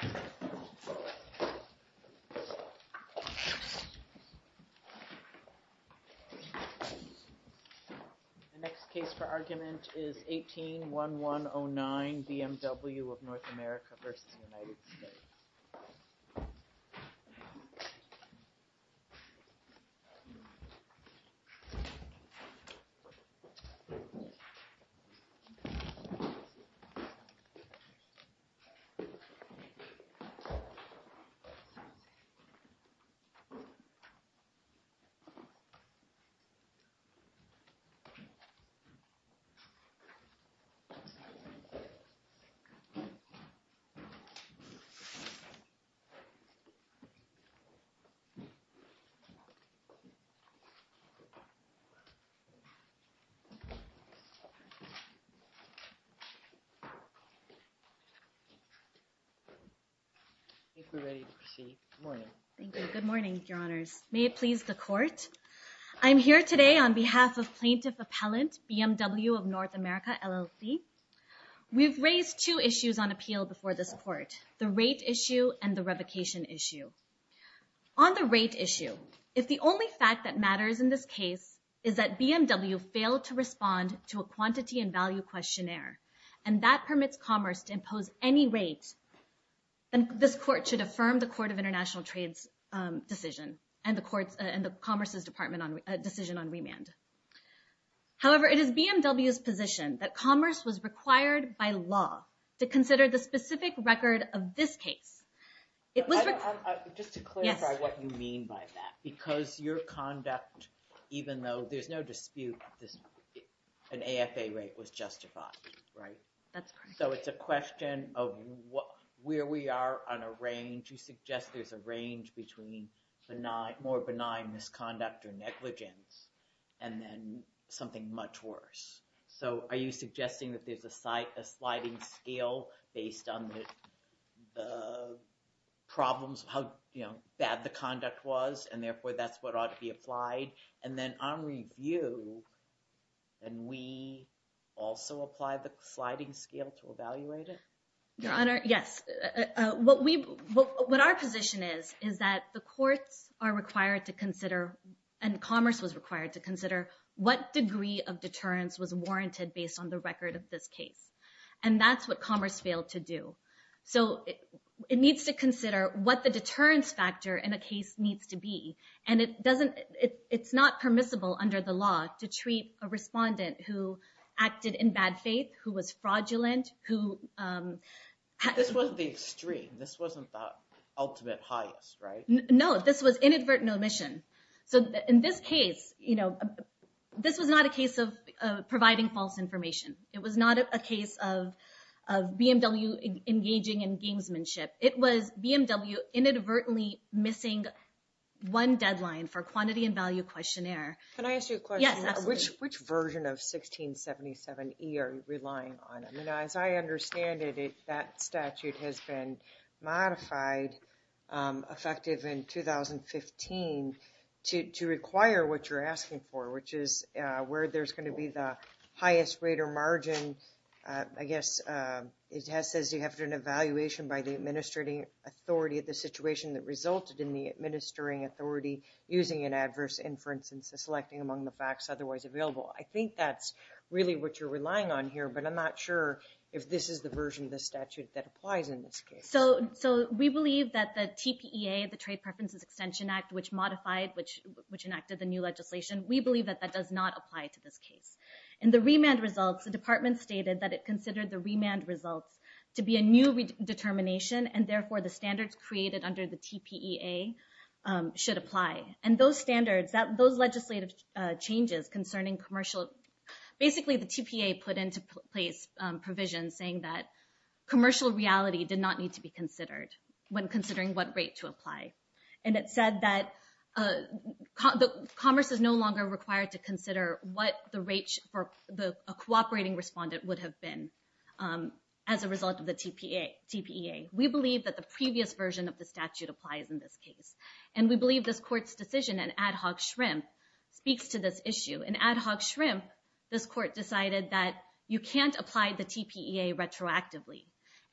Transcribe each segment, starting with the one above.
The next case for argument is 18-1109, BMW of North America versus United States. The next case for argument is 18-1109, BMW of North America versus United States. I'm here today on behalf of plaintiff appellant BMW of North America, LLC. We've raised two issues on appeal before this court, the rate issue and the revocation issue. On the rate issue, if the only fact that matters in this case is that BMW failed to respond to a quantity and value questionnaire, and that permits commerce to impose any rate, then this court should affirm the Court of International Trade's decision and the Commerce's decision on remand. However, it is BMW's position that commerce was required by law to consider the specific record of this case. Just to clarify what you mean by that, because your conduct, even though there's no dispute, an AFA rate was justified, right? That's correct. So it's a question of where we are on a range. You suggest there's a range between more benign misconduct or negligence, and then something much worse. So are you suggesting that there's a sliding scale based on the problems of how bad the conduct was, and therefore that's what ought to be applied? And then on review, can we also apply the sliding scale to evaluate it? Your Honor, yes. What our position is, is that the courts are required to consider, and commerce was required to consider, what degree of deterrence was warranted based on the record of this case. And that's what commerce failed to do. So it needs to consider what the deterrence factor in a case needs to be. And it's not permissible under the law to treat a respondent who acted in bad faith, who was fraudulent, who... This wasn't the extreme. This wasn't the ultimate highest, right? No, this was inadvertent omission. So in this case, this was not a case of providing false information. It was not a case of BMW engaging in gamesmanship. It was BMW inadvertently missing one deadline for quantity and value questionnaire. Can I ask you a question? Which version of 1677E are you relying on? As I understand it, that statute has been modified, effective in 2015, to require what you're asking for, which is where there's going to be the highest rate or margin. I guess it says you have to do an evaluation by the administrating authority of the situation that resulted in the administering authority using an adverse inference and selecting among the facts otherwise available. I think that's really what you're relying on here, but I'm not sure if this is the version of the statute that applies in this case. So we believe that the TPEA, the Trade Preferences Extension Act, which modified, which enacted the new legislation, we believe that that does not apply to this case. In the remand results, the department stated that it considered the remand results to be a new determination, and therefore the standards created under the TPEA should apply. And those standards, those legislative changes concerning commercial, basically the TPEA put into place provisions saying that commercial reality did not need to be considered when considering what rate to apply. And it said that commerce is no longer required to consider what the rate for a cooperating respondent would have been as a result of the TPEA. We believe that the previous version of the statute applies in this case. And we believe this court's decision in Ad Hoc Shrimp speaks to this issue. In Ad Hoc Shrimp, this court decided that you can't apply the TPEA retroactively.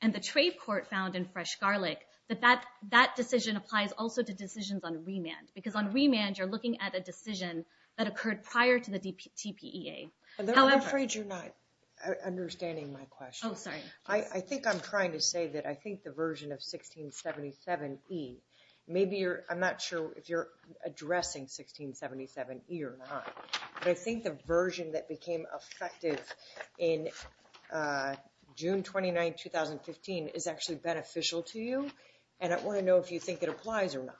And the trade court found in Fresh Garlic that that decision applies also to decisions on remand. Because on remand, you're looking at a decision that occurred prior to the TPEA. I'm afraid you're not understanding my question. Oh, sorry. I think I'm trying to say that I think the version of 1677E, maybe you're, I'm not sure if you're addressing 1677E or not, but I think the version that became effective in June 29, 2015 is actually beneficial to you. And I want to know if you think it applies or not.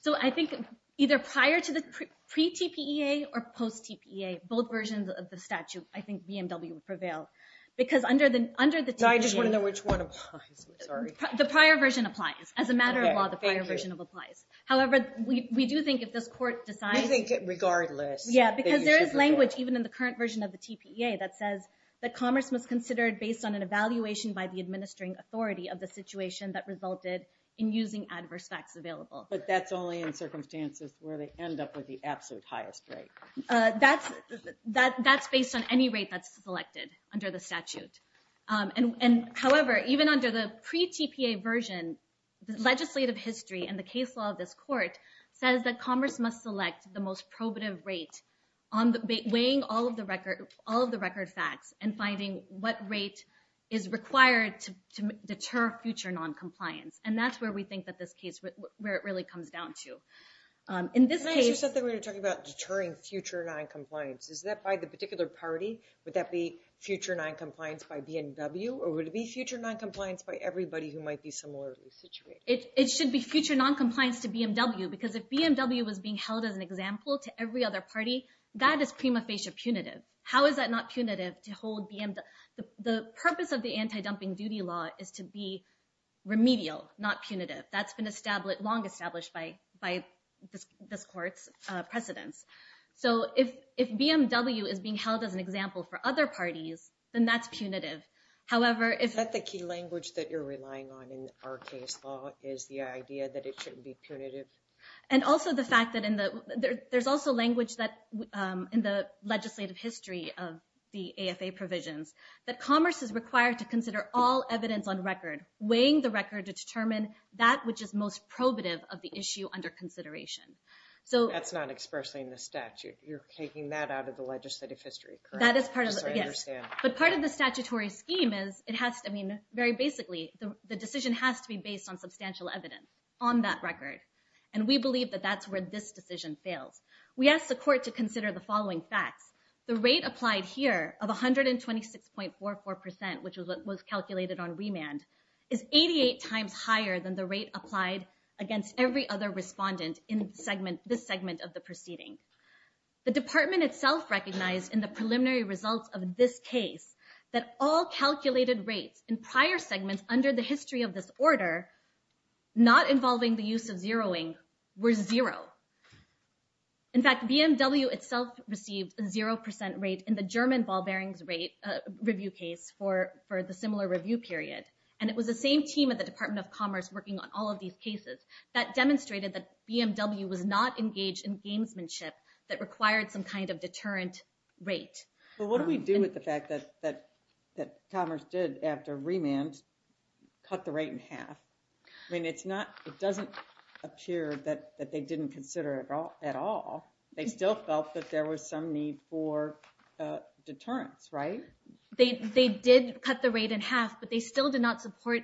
So I think either prior to the pre-TPEA or post-TPEA, both versions of the statute, I think BMW would prevail. Because under the TPEA... I just want to know which one applies. I'm sorry. The prior version applies. As a matter of law, the prior version applies. However, we do think if this court decides... I think regardless... Yeah, because there is language even in the current version of the TPEA that says that commerce was considered based on an evaluation by the administering authority of the situation that resulted in using adverse facts available. But that's only in circumstances where they end up with the absolute highest rate. That's based on any rate that's selected under the statute. However, even under the pre-TPEA version, the legislative history and the case law of this court says that commerce must select the most probative rate, weighing all of the record facts and finding what rate is required to deter future noncompliance. And that's where we think that this case, where it really comes down to. Can I ask you something? We were talking about deterring future noncompliance. Is that by the particular party? Would that be future noncompliance by BMW? Or would it be future noncompliance by everybody who might be similarly situated? It should be future noncompliance to BMW. Because if BMW was being held as an example to every other party, that is prima facie punitive. How is that not punitive to hold BMW... The purpose of the anti-dumping duty law is to be remedial, not punitive. That's been long established by this court's precedence. So if BMW is being held as an example for other parties, then that's punitive. Is that the key language that you're relying on in our case law is the idea that it shouldn't be punitive? And also the fact that there's also language in the legislative history of the AFA provisions that commerce is required to consider all evidence on record, weighing the record to determine that which is most probative of the issue under consideration. That's not expressly in the statute. You're taking that out of the legislative history, correct? That is part of it, yes. But part of the statutory scheme is it has to be, very basically, the decision has to be based on substantial evidence on that record. And we believe that that's where this decision fails. We asked the court to consider the following facts. The rate applied here of 126.44%, which was calculated on remand, is 88 times higher than the rate applied against every other respondent in this segment of the proceeding. The department itself recognized in the preliminary results of this case that all calculated rates in prior segments under the history of this order, not involving the use of zeroing, were zero. In fact, BMW itself received a 0% rate in the German ball bearings rate review case for the similar review period. And it was the same team at the Department of Commerce working on all of these cases that demonstrated that BMW was not engaged in gamesmanship that required some kind of deterrent rate. Well, what do we do with the fact that commerce did, after remand, cut the rate in half? I mean, it doesn't appear that they didn't consider it at all. They still felt that there was some need for deterrence, right? They did cut the rate in half, but they still did not support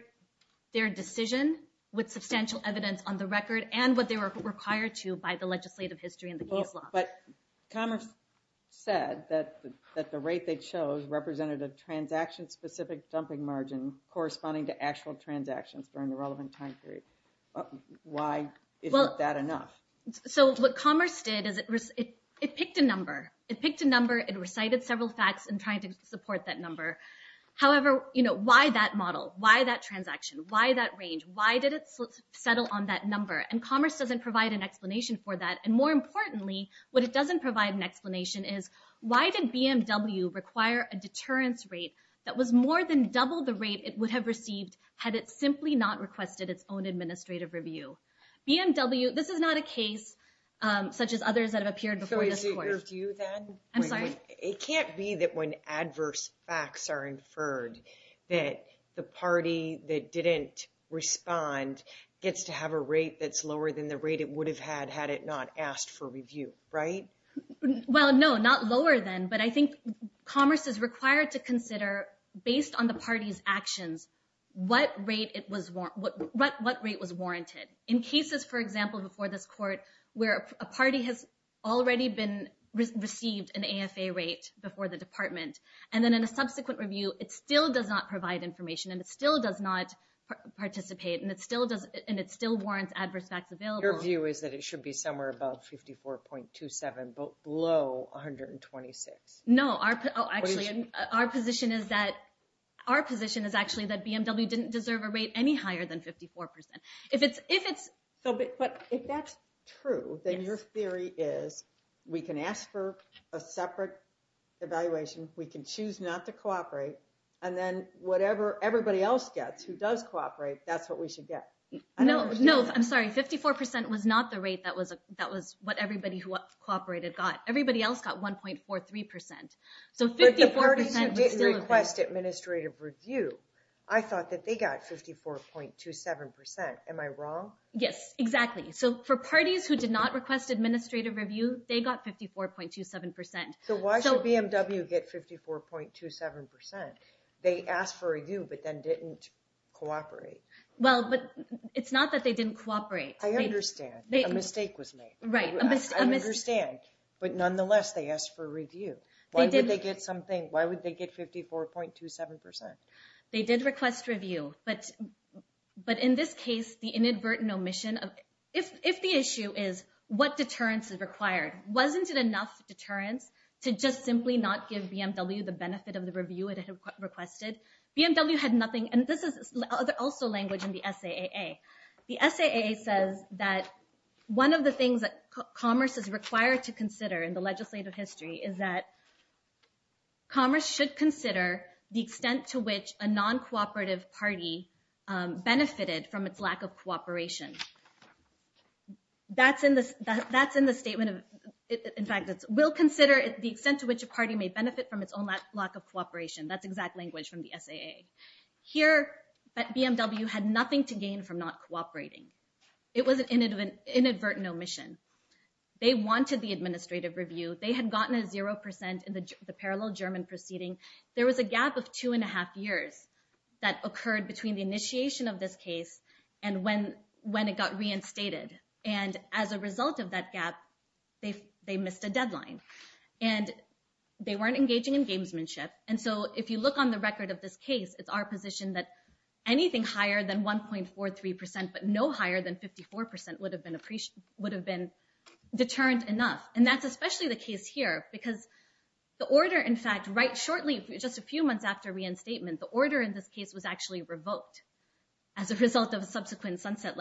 their decision with substantial evidence on the record and what they were required to by the legislative history in the case law. But commerce said that the rate they chose represented a transaction-specific dumping margin corresponding to actual transactions during the relevant time period. Why isn't that enough? So what commerce did is it picked a number. It picked a number. It recited several facts in trying to support that number. However, why that model? Why that transaction? Why that range? Why did it settle on that number? And commerce doesn't provide an explanation for that. And more importantly, what it doesn't provide an explanation is why did BMW require a deterrence rate that was more than double the rate it would have received had it simply not requested its own administrative review? BMW, this is not a case such as others that have appeared before this court. So is it review then? I'm sorry? It can't be that when adverse facts are inferred that the party that didn't respond gets to have a rate that's lower than the rate it would have had had it not asked for review, right? Well, no, not lower than. But I think commerce is required to consider, based on the party's actions, what rate was warranted. In cases, for example, before this court where a party has already received an AFA rate before the department and then in a subsequent review, it still does not provide information and it still does not participate and it still warrants adverse facts available. Your view is that it should be somewhere above 54.27, but below 126. No, our position is actually that BMW didn't deserve a rate any higher than 54%. But if that's true, then your theory is we can ask for a separate evaluation. We can choose not to cooperate. And then whatever everybody else gets who does cooperate, that's what we should get. No, I'm sorry. 54% was not the rate that was what everybody who cooperated got. Everybody else got 1.43%. But the parties who didn't request administrative review, I thought that they got 54.27%. Am I wrong? Yes, exactly. So for parties who did not request administrative review, they got 54.27%. So why should BMW get 54.27%? They asked for a review but then didn't cooperate. Well, but it's not that they didn't cooperate. I understand. A mistake was made. Right. I understand. But nonetheless, they asked for a review. Why would they get something? Why would they get 54.27%? They did request review. But in this case, the inadvertent omission, if the issue is what deterrence is required, wasn't it enough deterrence to just simply not give BMW the benefit of the review it had requested? BMW had nothing. And this is also language in the SAAA. The SAAA says that one of the things that commerce is required to consider in the legislative history is that commerce should consider the extent to which a non-cooperative party benefited from its lack of cooperation. That's in the statement. In fact, it will consider the extent to which a party may benefit from its own lack of cooperation. That's exact language from the SAAA. Here, BMW had nothing to gain from not cooperating. It was an inadvertent omission. They wanted the administrative review. They had gotten a 0% in the parallel German proceeding. There was a gap of two and a half years that occurred between the initiation of this case and when it got reinstated. And as a result of that gap, they missed a deadline. And they weren't engaging in gamesmanship. And so if you look on the record of this case, it's our position that anything higher than 1.43% but no higher than 54% would have been deterred enough. And that's especially the case here because the order, in fact, right shortly, just a few months after reinstatement, the order in this case was actually revoked as a result of a subsequent sunset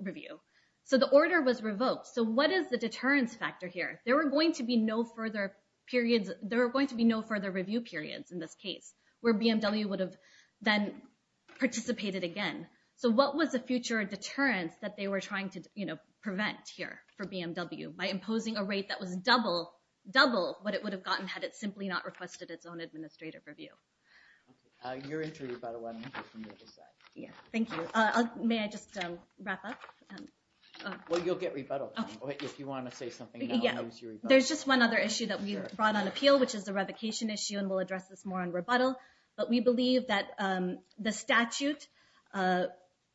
review. So the order was revoked. So what is the deterrence factor here? There were going to be no further review periods in this case where BMW would have then participated again. So what was the future deterrence that they were trying to prevent here for BMW by imposing a rate that was double what it would have gotten had it simply not requested its own administrative review? You're interviewed by the one on the other side. Thank you. May I just wrap up? Well, you'll get rebuttal. If you want to say something, I'll use your rebuttal. There's just one other issue that we brought on appeal, which is the revocation issue, and we'll address this more on rebuttal. But we believe that the statute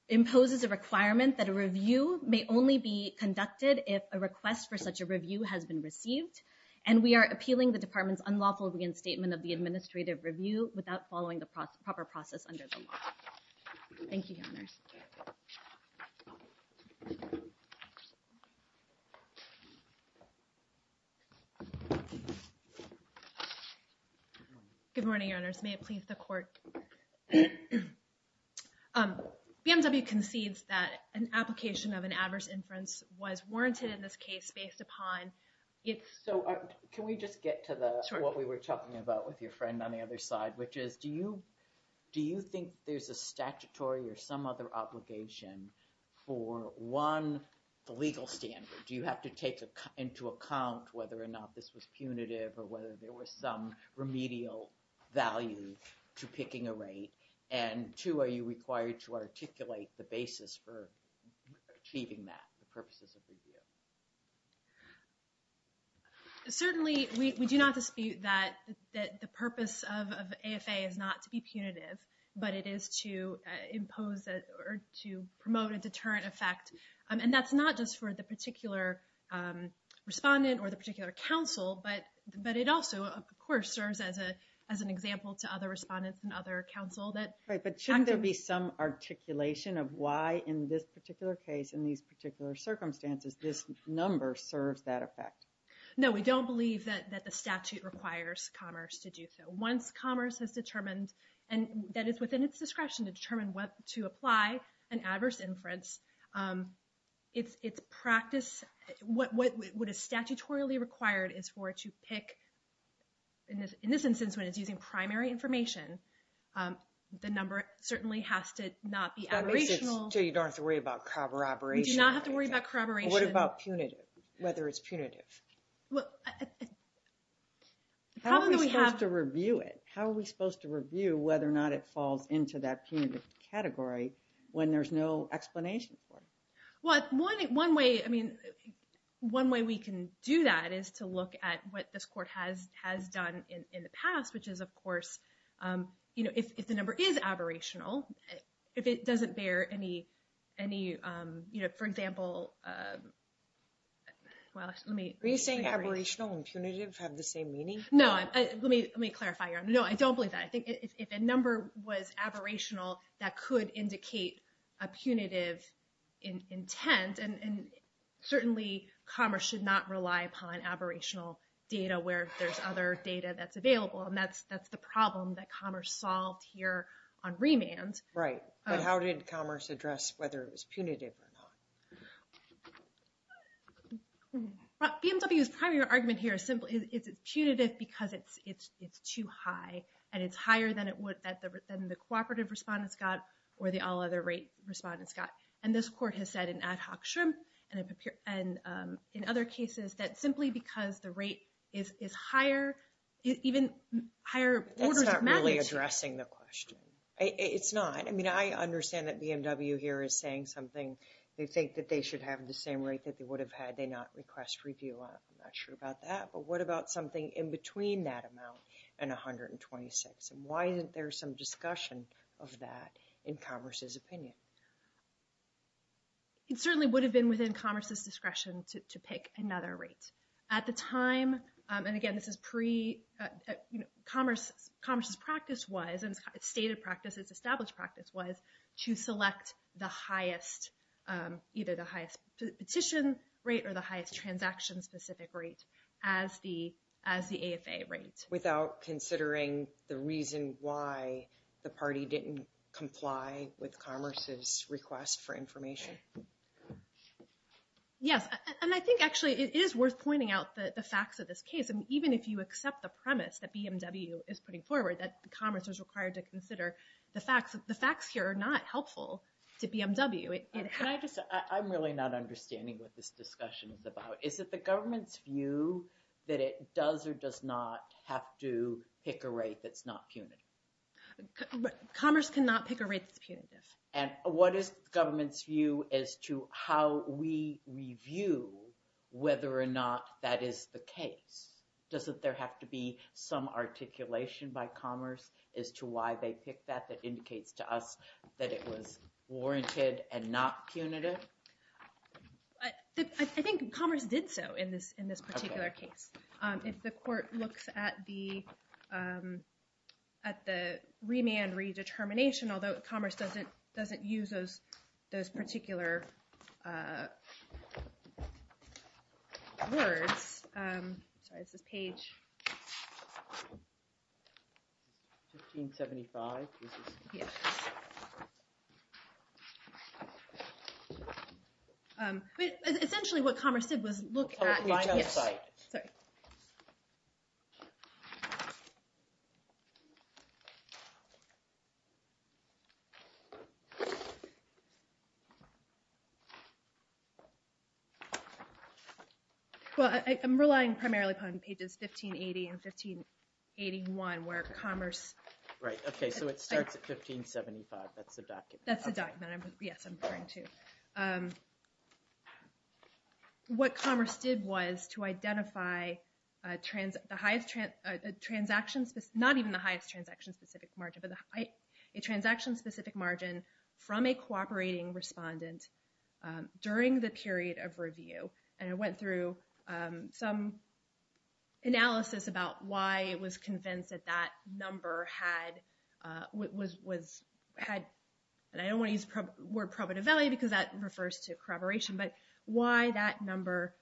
imposes a requirement that a review may only be conducted if a request for such a review has been received. And we are appealing the department's unlawful reinstatement of the administrative review without following the proper process under the law. Thank you, Your Honors. Good morning, Your Honors. May it please the Court. BMW concedes that an application of an adverse inference was warranted in this case based upon its- So can we just get to what we were talking about with your friend on the other side, which is do you think there's a statutory or some other obligation for, one, the legal standard? Do you have to take into account whether or not this was punitive or whether there was some remedial value to picking a rate? And, two, are you required to articulate the basis for achieving that, the purposes of the review? Certainly, we do not dispute that the purpose of AFA is not to be punitive, but it is to impose or to promote a deterrent effect. And that's not just for the particular respondent or the particular counsel, but it also, of course, serves as an example to other respondents and other counsel that- Right, but shouldn't there be some articulation of why in this particular case, in these particular circumstances, this number serves that effect? No, we don't believe that the statute requires Commerce to do so. Once Commerce has determined, and that it's within its discretion to determine what to apply an adverse inference, its practice, what is statutorily required is for it to pick, in this instance, when it's using primary information, the number certainly has to not be aberrational. So you don't have to worry about corroboration? We do not have to worry about corroboration. What about punitive, whether it's punitive? Well, the problem that we have- How are we supposed to review it? How are we supposed to review whether or not it falls into that punitive category when there's no explanation for it? Well, one way we can do that is to look at what this court has done in the past, which is, of course, if the number is aberrational, if it doesn't bear any, for example- Are you saying aberrational and punitive have the same meaning? No, let me clarify. No, I don't believe that. I think if a number was aberrational, that could indicate a punitive intent, and certainly Commerce should not rely upon aberrational data where there's other data that's available, and that's the problem that Commerce solved here on remand. Right, but how did Commerce address whether it was punitive or not? BMW's primary argument here is it's punitive because it's too high, and it's higher than the cooperative respondents got or the all other rate respondents got. And this court has said in ad hoc shrimp and in other cases that simply because the rate is higher, even higher orders of magnitude- That's not really addressing the question. It's not. I mean, I understand that BMW here is saying something. They think that they should have the same rate that they would have had. They not request review. I'm not sure about that. But what about something in between that amount and 126, and why isn't there some discussion of that in Commerce's opinion? It certainly would have been within Commerce's discretion to pick another rate. At the time, and again, Commerce's practice was, and it's stated practice, it's established practice, was to select either the highest petition rate or the highest transaction-specific rate as the AFA rate. Without considering the reason why the party didn't comply with Commerce's request for information? Yes. And I think actually it is worth pointing out the facts of this case. And even if you accept the premise that BMW is putting forward, that Commerce is required to consider the facts, the facts here are not helpful to BMW. Can I just- I'm really not understanding what this discussion is about. Is it the government's view that it does or does not have to pick a rate that's not punitive? Commerce cannot pick a rate that's punitive. And what is the government's view as to how we review whether or not that is the case? Doesn't there have to be some articulation by Commerce as to why they picked that that indicates to us that it was warranted and not punitive? I think Commerce did so in this particular case. If the court looks at the remand redetermination, although Commerce doesn't use those particular words. Sorry, it's this page. Essentially what Commerce did was look at- It's the final site. Sorry. Well, I'm relying primarily upon pages 1580 and 1581 where Commerce- Right, okay, so it starts at 1575. That's the document. That's the document. Yes, I'm referring to. What Commerce did was to identify the highest transaction- Not even the highest transaction-specific margin, but a transaction-specific margin from a cooperating respondent during the period of review. And it went through some analysis about why it was convinced that that number had- Because that refers to corroboration, but why that number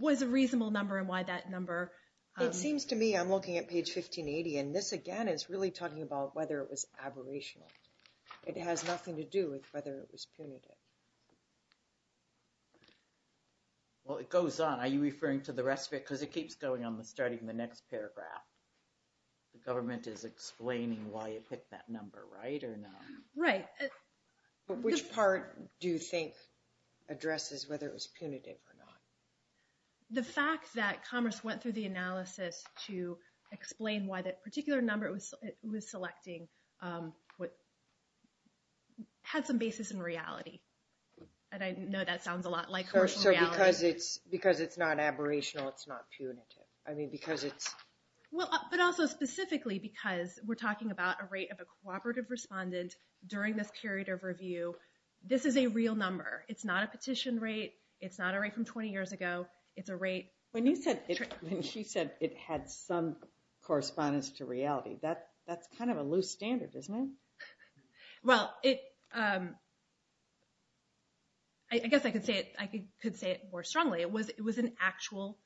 was a reasonable number and why that number- It seems to me, I'm looking at page 1580, and this again is really talking about whether it was aberrational. It has nothing to do with whether it was punitive. Well, it goes on. Are you referring to the rest of it? Because it keeps going on starting the next paragraph. The government is explaining why it picked that number, right or no? Right. But which part do you think addresses whether it was punitive or not? The fact that Commerce went through the analysis to explain why that particular number it was selecting had some basis in reality. And I know that sounds a lot like- So because it's not aberrational, it's not punitive. I mean, because it's- But also specifically because we're talking about a rate of a cooperative respondent during this period of review. This is a real number. It's not a petition rate. It's not a rate from 20 years ago. It's a rate- When she said it had some correspondence to reality, that's kind of a loose standard, isn't it? Well, it- I guess I could say it more strongly. It was an actual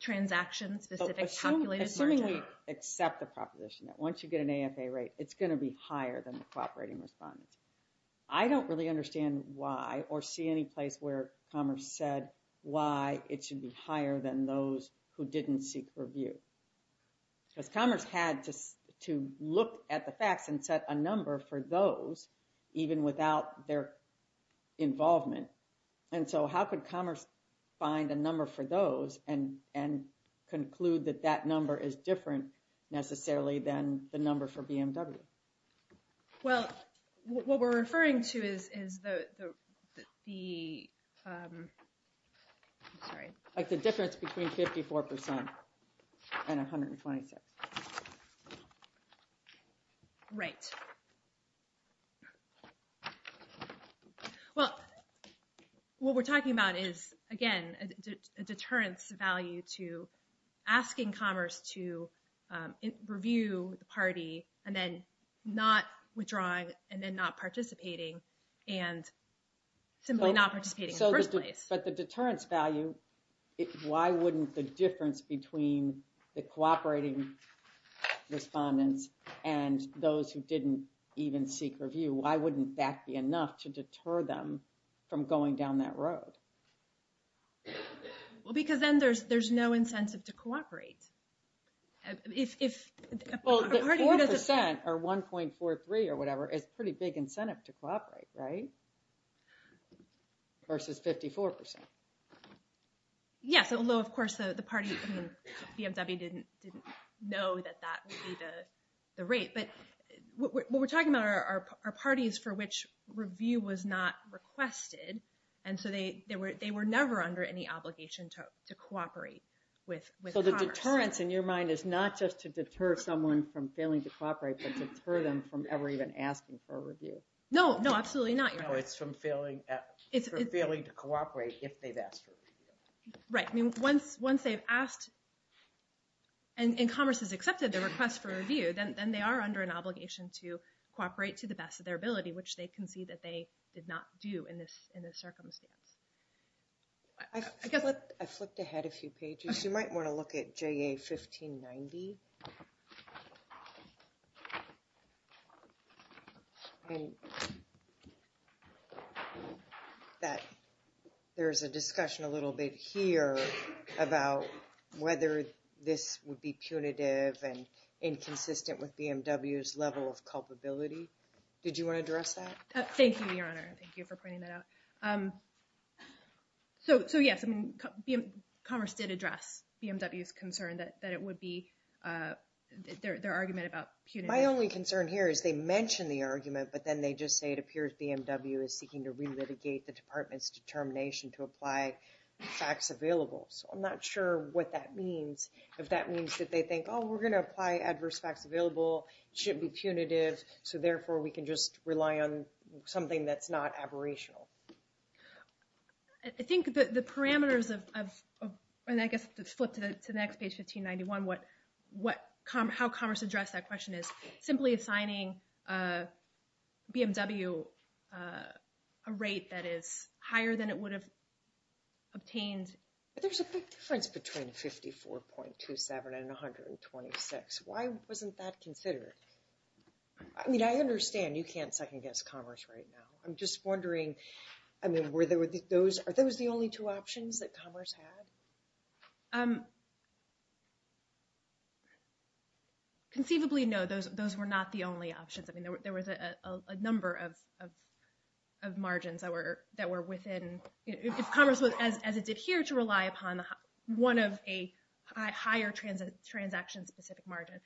transaction-specific calculated- Assuming we accept the proposition that once you get an AFA rate, it's going to be higher than the cooperating respondent. I don't really understand why or see any place where Commerce said why it should be higher than those who didn't seek review. Because Commerce had to look at the facts and set a number for those even without their involvement. And so how could Commerce find a number for those and conclude that that number is different necessarily than the number for BMW? Well, what we're referring to is the- Sorry. Like the difference between 54% and 126%. Right. Well, what we're talking about is, again, a deterrence value to asking Commerce to review the party and then not withdrawing and then not participating and simply not participating in the first place. But the deterrence value, why wouldn't the difference between the cooperating respondents and those who didn't even seek review, why wouldn't that be enough to deter them from going down that road? Well, because then there's no incentive to cooperate. Well, 4% or 1.43 or whatever is pretty big incentive to cooperate, right? Versus 54%. Yes, although, of course, the party, BMW, didn't know that that would be the rate. But what we're talking about are parties for which review was not requested, and so they were never under any obligation to cooperate with Commerce. So the deterrence, in your mind, is not just to deter someone from failing to cooperate, but to deter them from ever even asking for a review. No, no, absolutely not. No, it's from failing to cooperate if they've asked for a review. Right. I mean, once they've asked and Commerce has accepted their request for review, then they are under an obligation to cooperate to the best of their ability, which they concede that they did not do in this circumstance. I flipped ahead a few pages. You might want to look at JA 1590. There's a discussion a little bit here about whether this would be punitive and inconsistent with BMW's level of culpability. Did you want to address that? Thank you, Your Honor. Thank you for pointing that out. So yes, Commerce did address BMW's concern that it would be, their argument about punitive. My only concern here is they mention the argument, but then they just say it appears BMW is seeking to relitigate the department's determination to apply facts available. So I'm not sure what that means, if that means that they think, oh, we're going to apply adverse facts available, it shouldn't be punitive, so therefore we can just rely on something that's not aberrational. I think the parameters of, and I guess to flip to the next page, 1591, how Commerce addressed that question is simply assigning BMW a rate that is higher than it would have obtained. But there's a big difference between 54.27 and 126. Why wasn't that considered? I mean, I understand you can't second-guess Commerce right now. I'm just wondering, are those the only two options that Commerce had? Conceivably, no, those were not the only options. I mean, there was a number of margins that were within, if Commerce, as it did here, to rely upon one of a higher transaction-specific margin.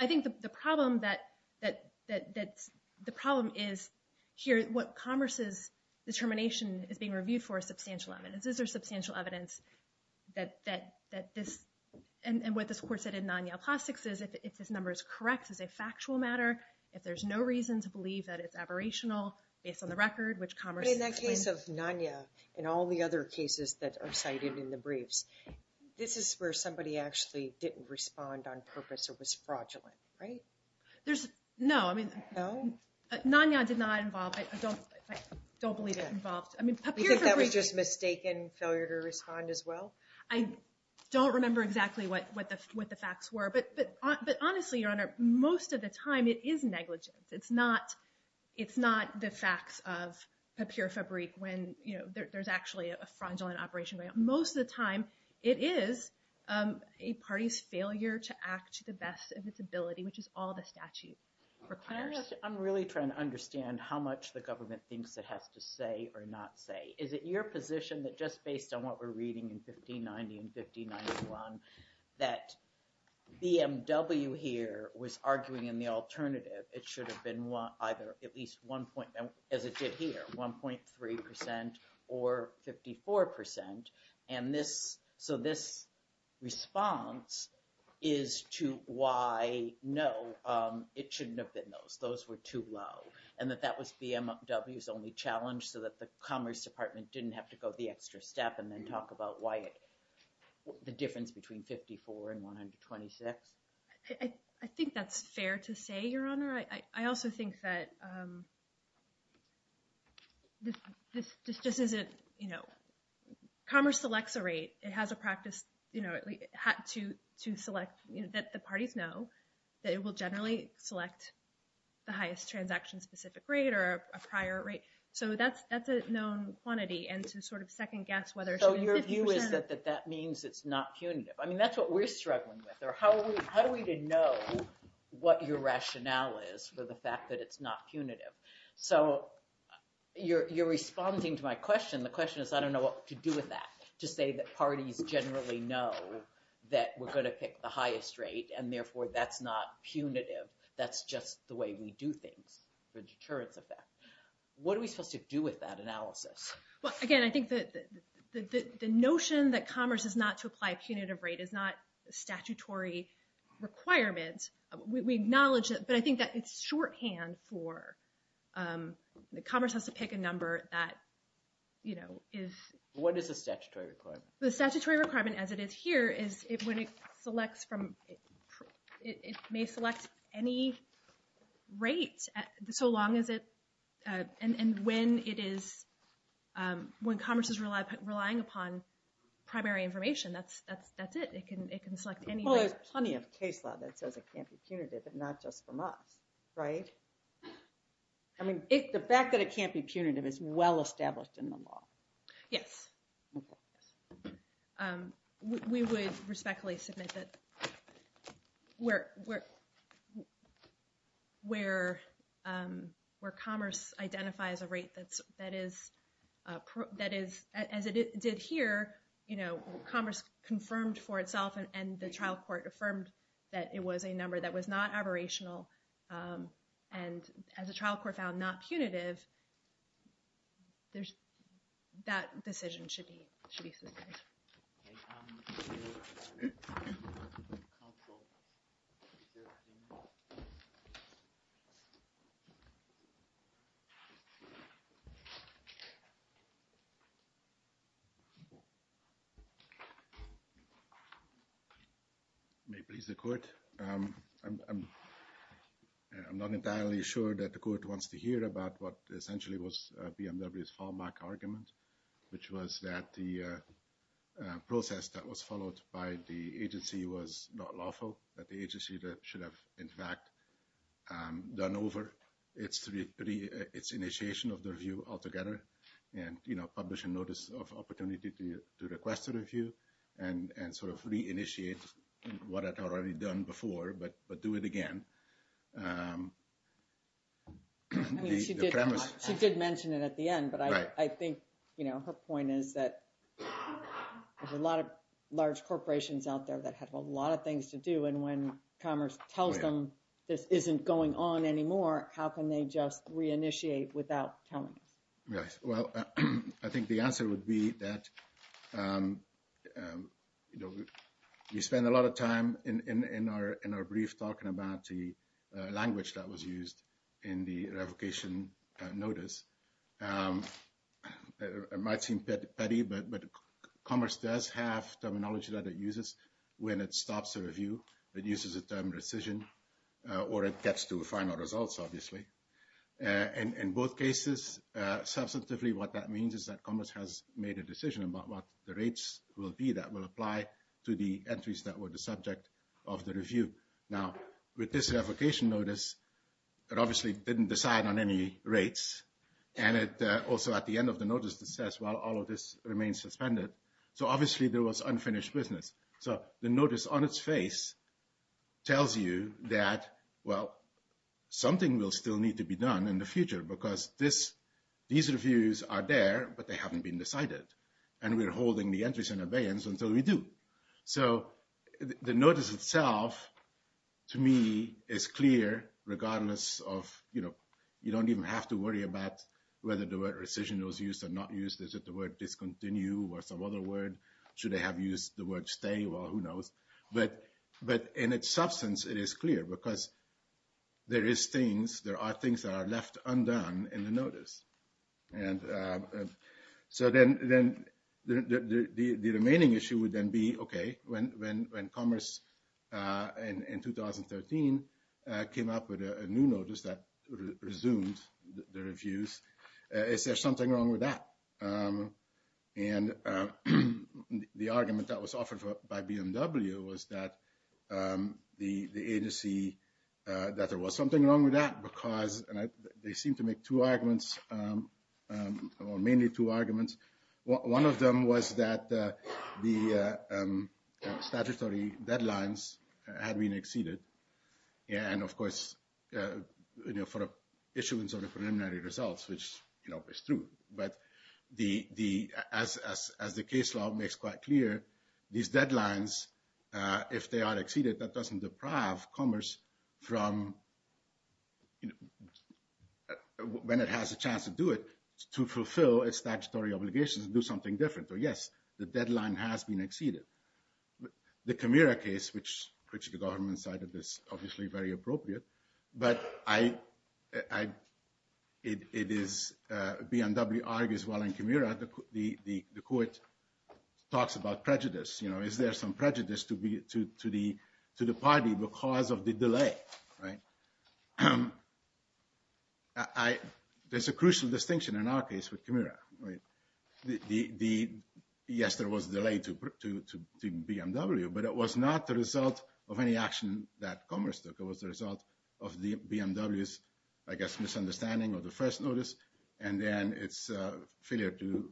I think the problem is here, what Commerce's determination is being reviewed for is substantial evidence. Is there substantial evidence that this, and what this court said in Nanya Plastics is, if this number is correct, is it a factual matter? If there's no reason to believe that it's aberrational, based on the record, which Commerce... In the case of Nanya and all the other cases that are cited in the briefs, this is where somebody actually didn't respond on purpose or was fraudulent, right? There's, no, I mean... No? Nanya did not involve, I don't believe it involved, I mean, Papir Fabrique... You think that was just mistaken, failure to respond as well? I don't remember exactly what the facts were, but honestly, Your Honor, most of the time it is negligence. It's not the facts of Papir Fabrique when there's actually a fraudulent operation going on. Most of the time, it is a party's failure to act to the best of its ability, which is all the statute requires. I'm really trying to understand how much the government thinks it has to say or not say. Is it your position that just based on what we're reading in 1590 and 1591, that BMW here was arguing in the alternative? It should have been either at least one point, as it did here, 1.3% or 54%. And this, so this response is to why, no, it shouldn't have been those. Those were too low, and that that was BMW's only challenge, so that the Commerce Department didn't have to go the extra step and then talk about why it, the difference between 54 and 126. I think that's fair to say, Your Honor. I also think that this just isn't, you know, Commerce selects a rate. It has a practice, you know, to select, you know, that the parties know that it will generally select the highest transaction-specific rate or a prior rate. So that's a known quantity, and to sort of second-guess whether it should have been 50%. So your view is that that means it's not punitive. I mean, that's what we're struggling with, or how are we to know what your rationale is for the fact that it's not punitive? So you're responding to my question. The question is, I don't know what to do with that, to say that parties generally know that we're going to pick the highest rate, and therefore that's not punitive. That's just the way we do things, the deterrence effect. What are we supposed to do with that analysis? Well, again, I think that the notion that Commerce is not to apply a punitive rate is not a statutory requirement. We acknowledge that, but I think that it's shorthand for Commerce has to pick a number that, you know, is... What is the statutory requirement? The statutory requirement, as it is here, is when it selects from, it may select any rate, so long as it, and when it is, when Commerce is relying upon primary information, that's it. It can select any rate. Well, there's plenty of case law that says it can't be punitive, and not just from us, right? I mean, the fact that it can't be punitive is well-established in the law. Yes. We would respectfully submit that where Commerce identifies a rate that is, as it did here, you know, Commerce confirmed for itself, and the trial court affirmed that it was a number that was not aberrational, and as a trial court found not punitive, that decision should be sustained. Okay. I'm not entirely sure that the court wants to hear about what essentially was BMW's fallback argument, which was that the process that was followed by the agency was not lawful, that the agency should have, in fact, done over its initiation of the review altogether, and, you know, publish a notice of opportunity to request a review, and sort of re-initiate what it had already done before, but do it again. I mean, she did mention it at the end, but I think, you know, her point is that there's a lot of large corporations out there that have a lot of things to do, and when Commerce tells them this isn't going on anymore, how can they just re-initiate without telling us? Yes, well, I think the answer would be that, you know, we spend a lot of time in our brief talking about the language that was used in the revocation notice. It might seem petty, but Commerce does have terminology that it uses when it stops a review. It uses the term rescission, or it gets to final results, obviously. In both cases, substantively what that means is that Commerce has made a decision about what the rates will be that will apply to the entries that were the subject of the review. Now, with this revocation notice, it obviously didn't decide on any rates, and also at the end of the notice it says, well, all of this remains suspended, so obviously there was unfinished business. So, the notice on its face tells you that, well, something will still need to be done in the future, because these reviews are there, but they haven't been decided, and we're holding the entries in abeyance until we do. So, the notice itself, to me, is clear, regardless of, you know, you don't even have to worry about whether the word rescission was used or not used, is it the word discontinue, or some other word, should they have used the word stay, well, who knows. But in its substance, it is clear, because there is things, there are things that are left undone in the notice. And so, then the remaining issue would then be, okay, when Commerce, in 2013, came up with a new notice that resumed the reviews, is there something wrong with that? And the argument that was offered by BMW was that the agency, that there was something wrong with that, because they seemed to make two arguments, or mainly two arguments. One of them was that the statutory deadlines had been exceeded, and of course, you know, for issuance of the preliminary results, which, you know, is true. But as the case law makes quite clear, these deadlines, if they are exceeded, that doesn't deprive Commerce from, you know, when it has a chance to do it, to fulfill its statutory obligations and do something different. So, yes, the deadline has been exceeded. The Camira case, which the government cited is obviously very appropriate, but it is, BMW argues while in Camira, the court talks about prejudice, you know, is there some prejudice to the party because of the delay, right? There's a crucial distinction in our case with Camira, right? Yes, there was a delay to BMW, but it was not the result of any action that Commerce took. It was the result of BMW's, I guess, misunderstanding of the first notice, and then its failure to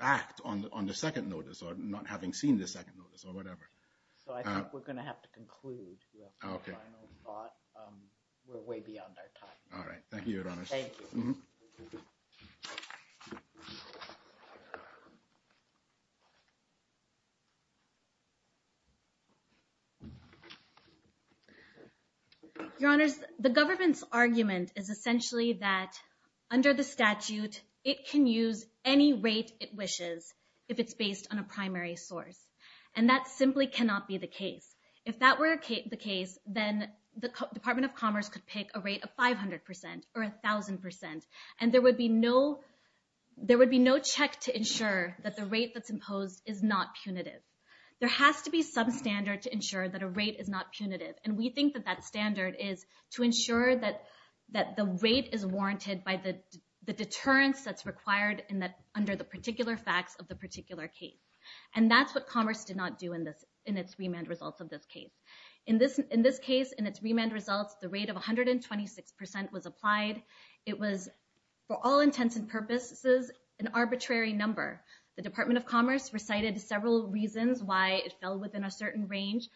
act on the second notice, or not having seen the second notice, or whatever. So I think we're going to have to conclude. We have some final thought. We're way beyond our time. All right. Thank you, Your Honor. Thank you. Thank you. Your Honors, the government's argument is essentially that under the statute, it can use any rate it wishes if it's based on a primary source, and that simply cannot be the case. If that were the case, then the Department of Commerce could pick a rate of 500% or 1,000%, and there would be no check to ensure that the rate that's imposed is not punitive. There has to be some standard to ensure that a rate is not punitive, and we think that that standard is to ensure that the rate is warranted by the deterrence that's required under the particular facts of the particular case, and that's what Commerce did not do in its remand results of this case. In this case, in its remand results, the rate of 126% was applied. It was, for all intents and purposes, an arbitrary number. The Department of Commerce recited several reasons why it fell within a certain range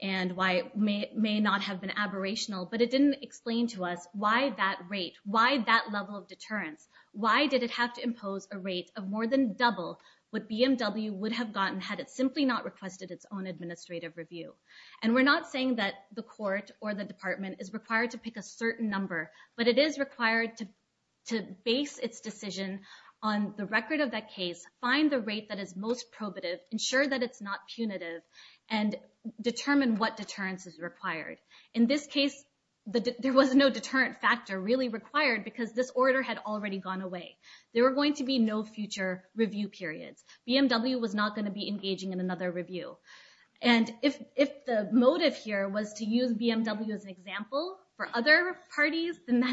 and why it may not have been aberrational, but it didn't explain to us why that rate, why that level of deterrence, why did it have to impose a rate of more than double what BMW would have gotten had it simply not requested its own administrative review. And we're not saying that the court or the department is required to pick a certain number, but it is required to base its decision on the record of that case, find the rate that is most probative, ensure that it's not punitive, and determine what deterrence is required. In this case, there was no deterrent factor really required because this order had already gone away. There were going to be no future review periods. BMW was not going to be engaging in another review. And if the motive here was to use BMW as an example for other parties, then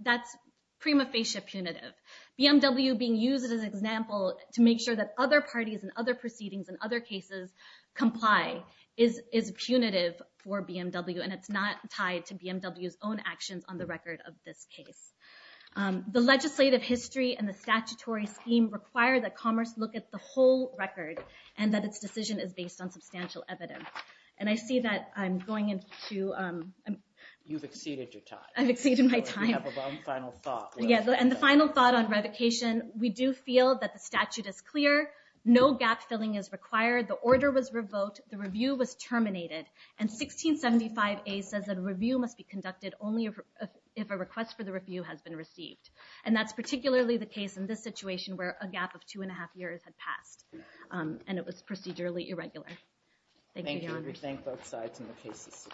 that's prima facie punitive. BMW being used as an example to make sure that other parties and other proceedings and other cases comply is punitive for BMW, and it's not tied to BMW's own actions on the record of this case. The legislative history and the statutory scheme require that Commerce look at the whole record and that its decision is based on substantial evidence. And I see that I'm going into... You've exceeded your time. I've exceeded my time. You have one final thought. And the final thought on revocation. We do feel that the statute is clear. No gap-filling is required. The order was revoked. The review was terminated. And 1675A says that a review must be conducted only if a request for the review has been received. And that's particularly the case in this situation where a gap of two and a half years had passed, and it was procedurally irregular. Thank you, Your Honor. Thank you. We thank both sides in the case.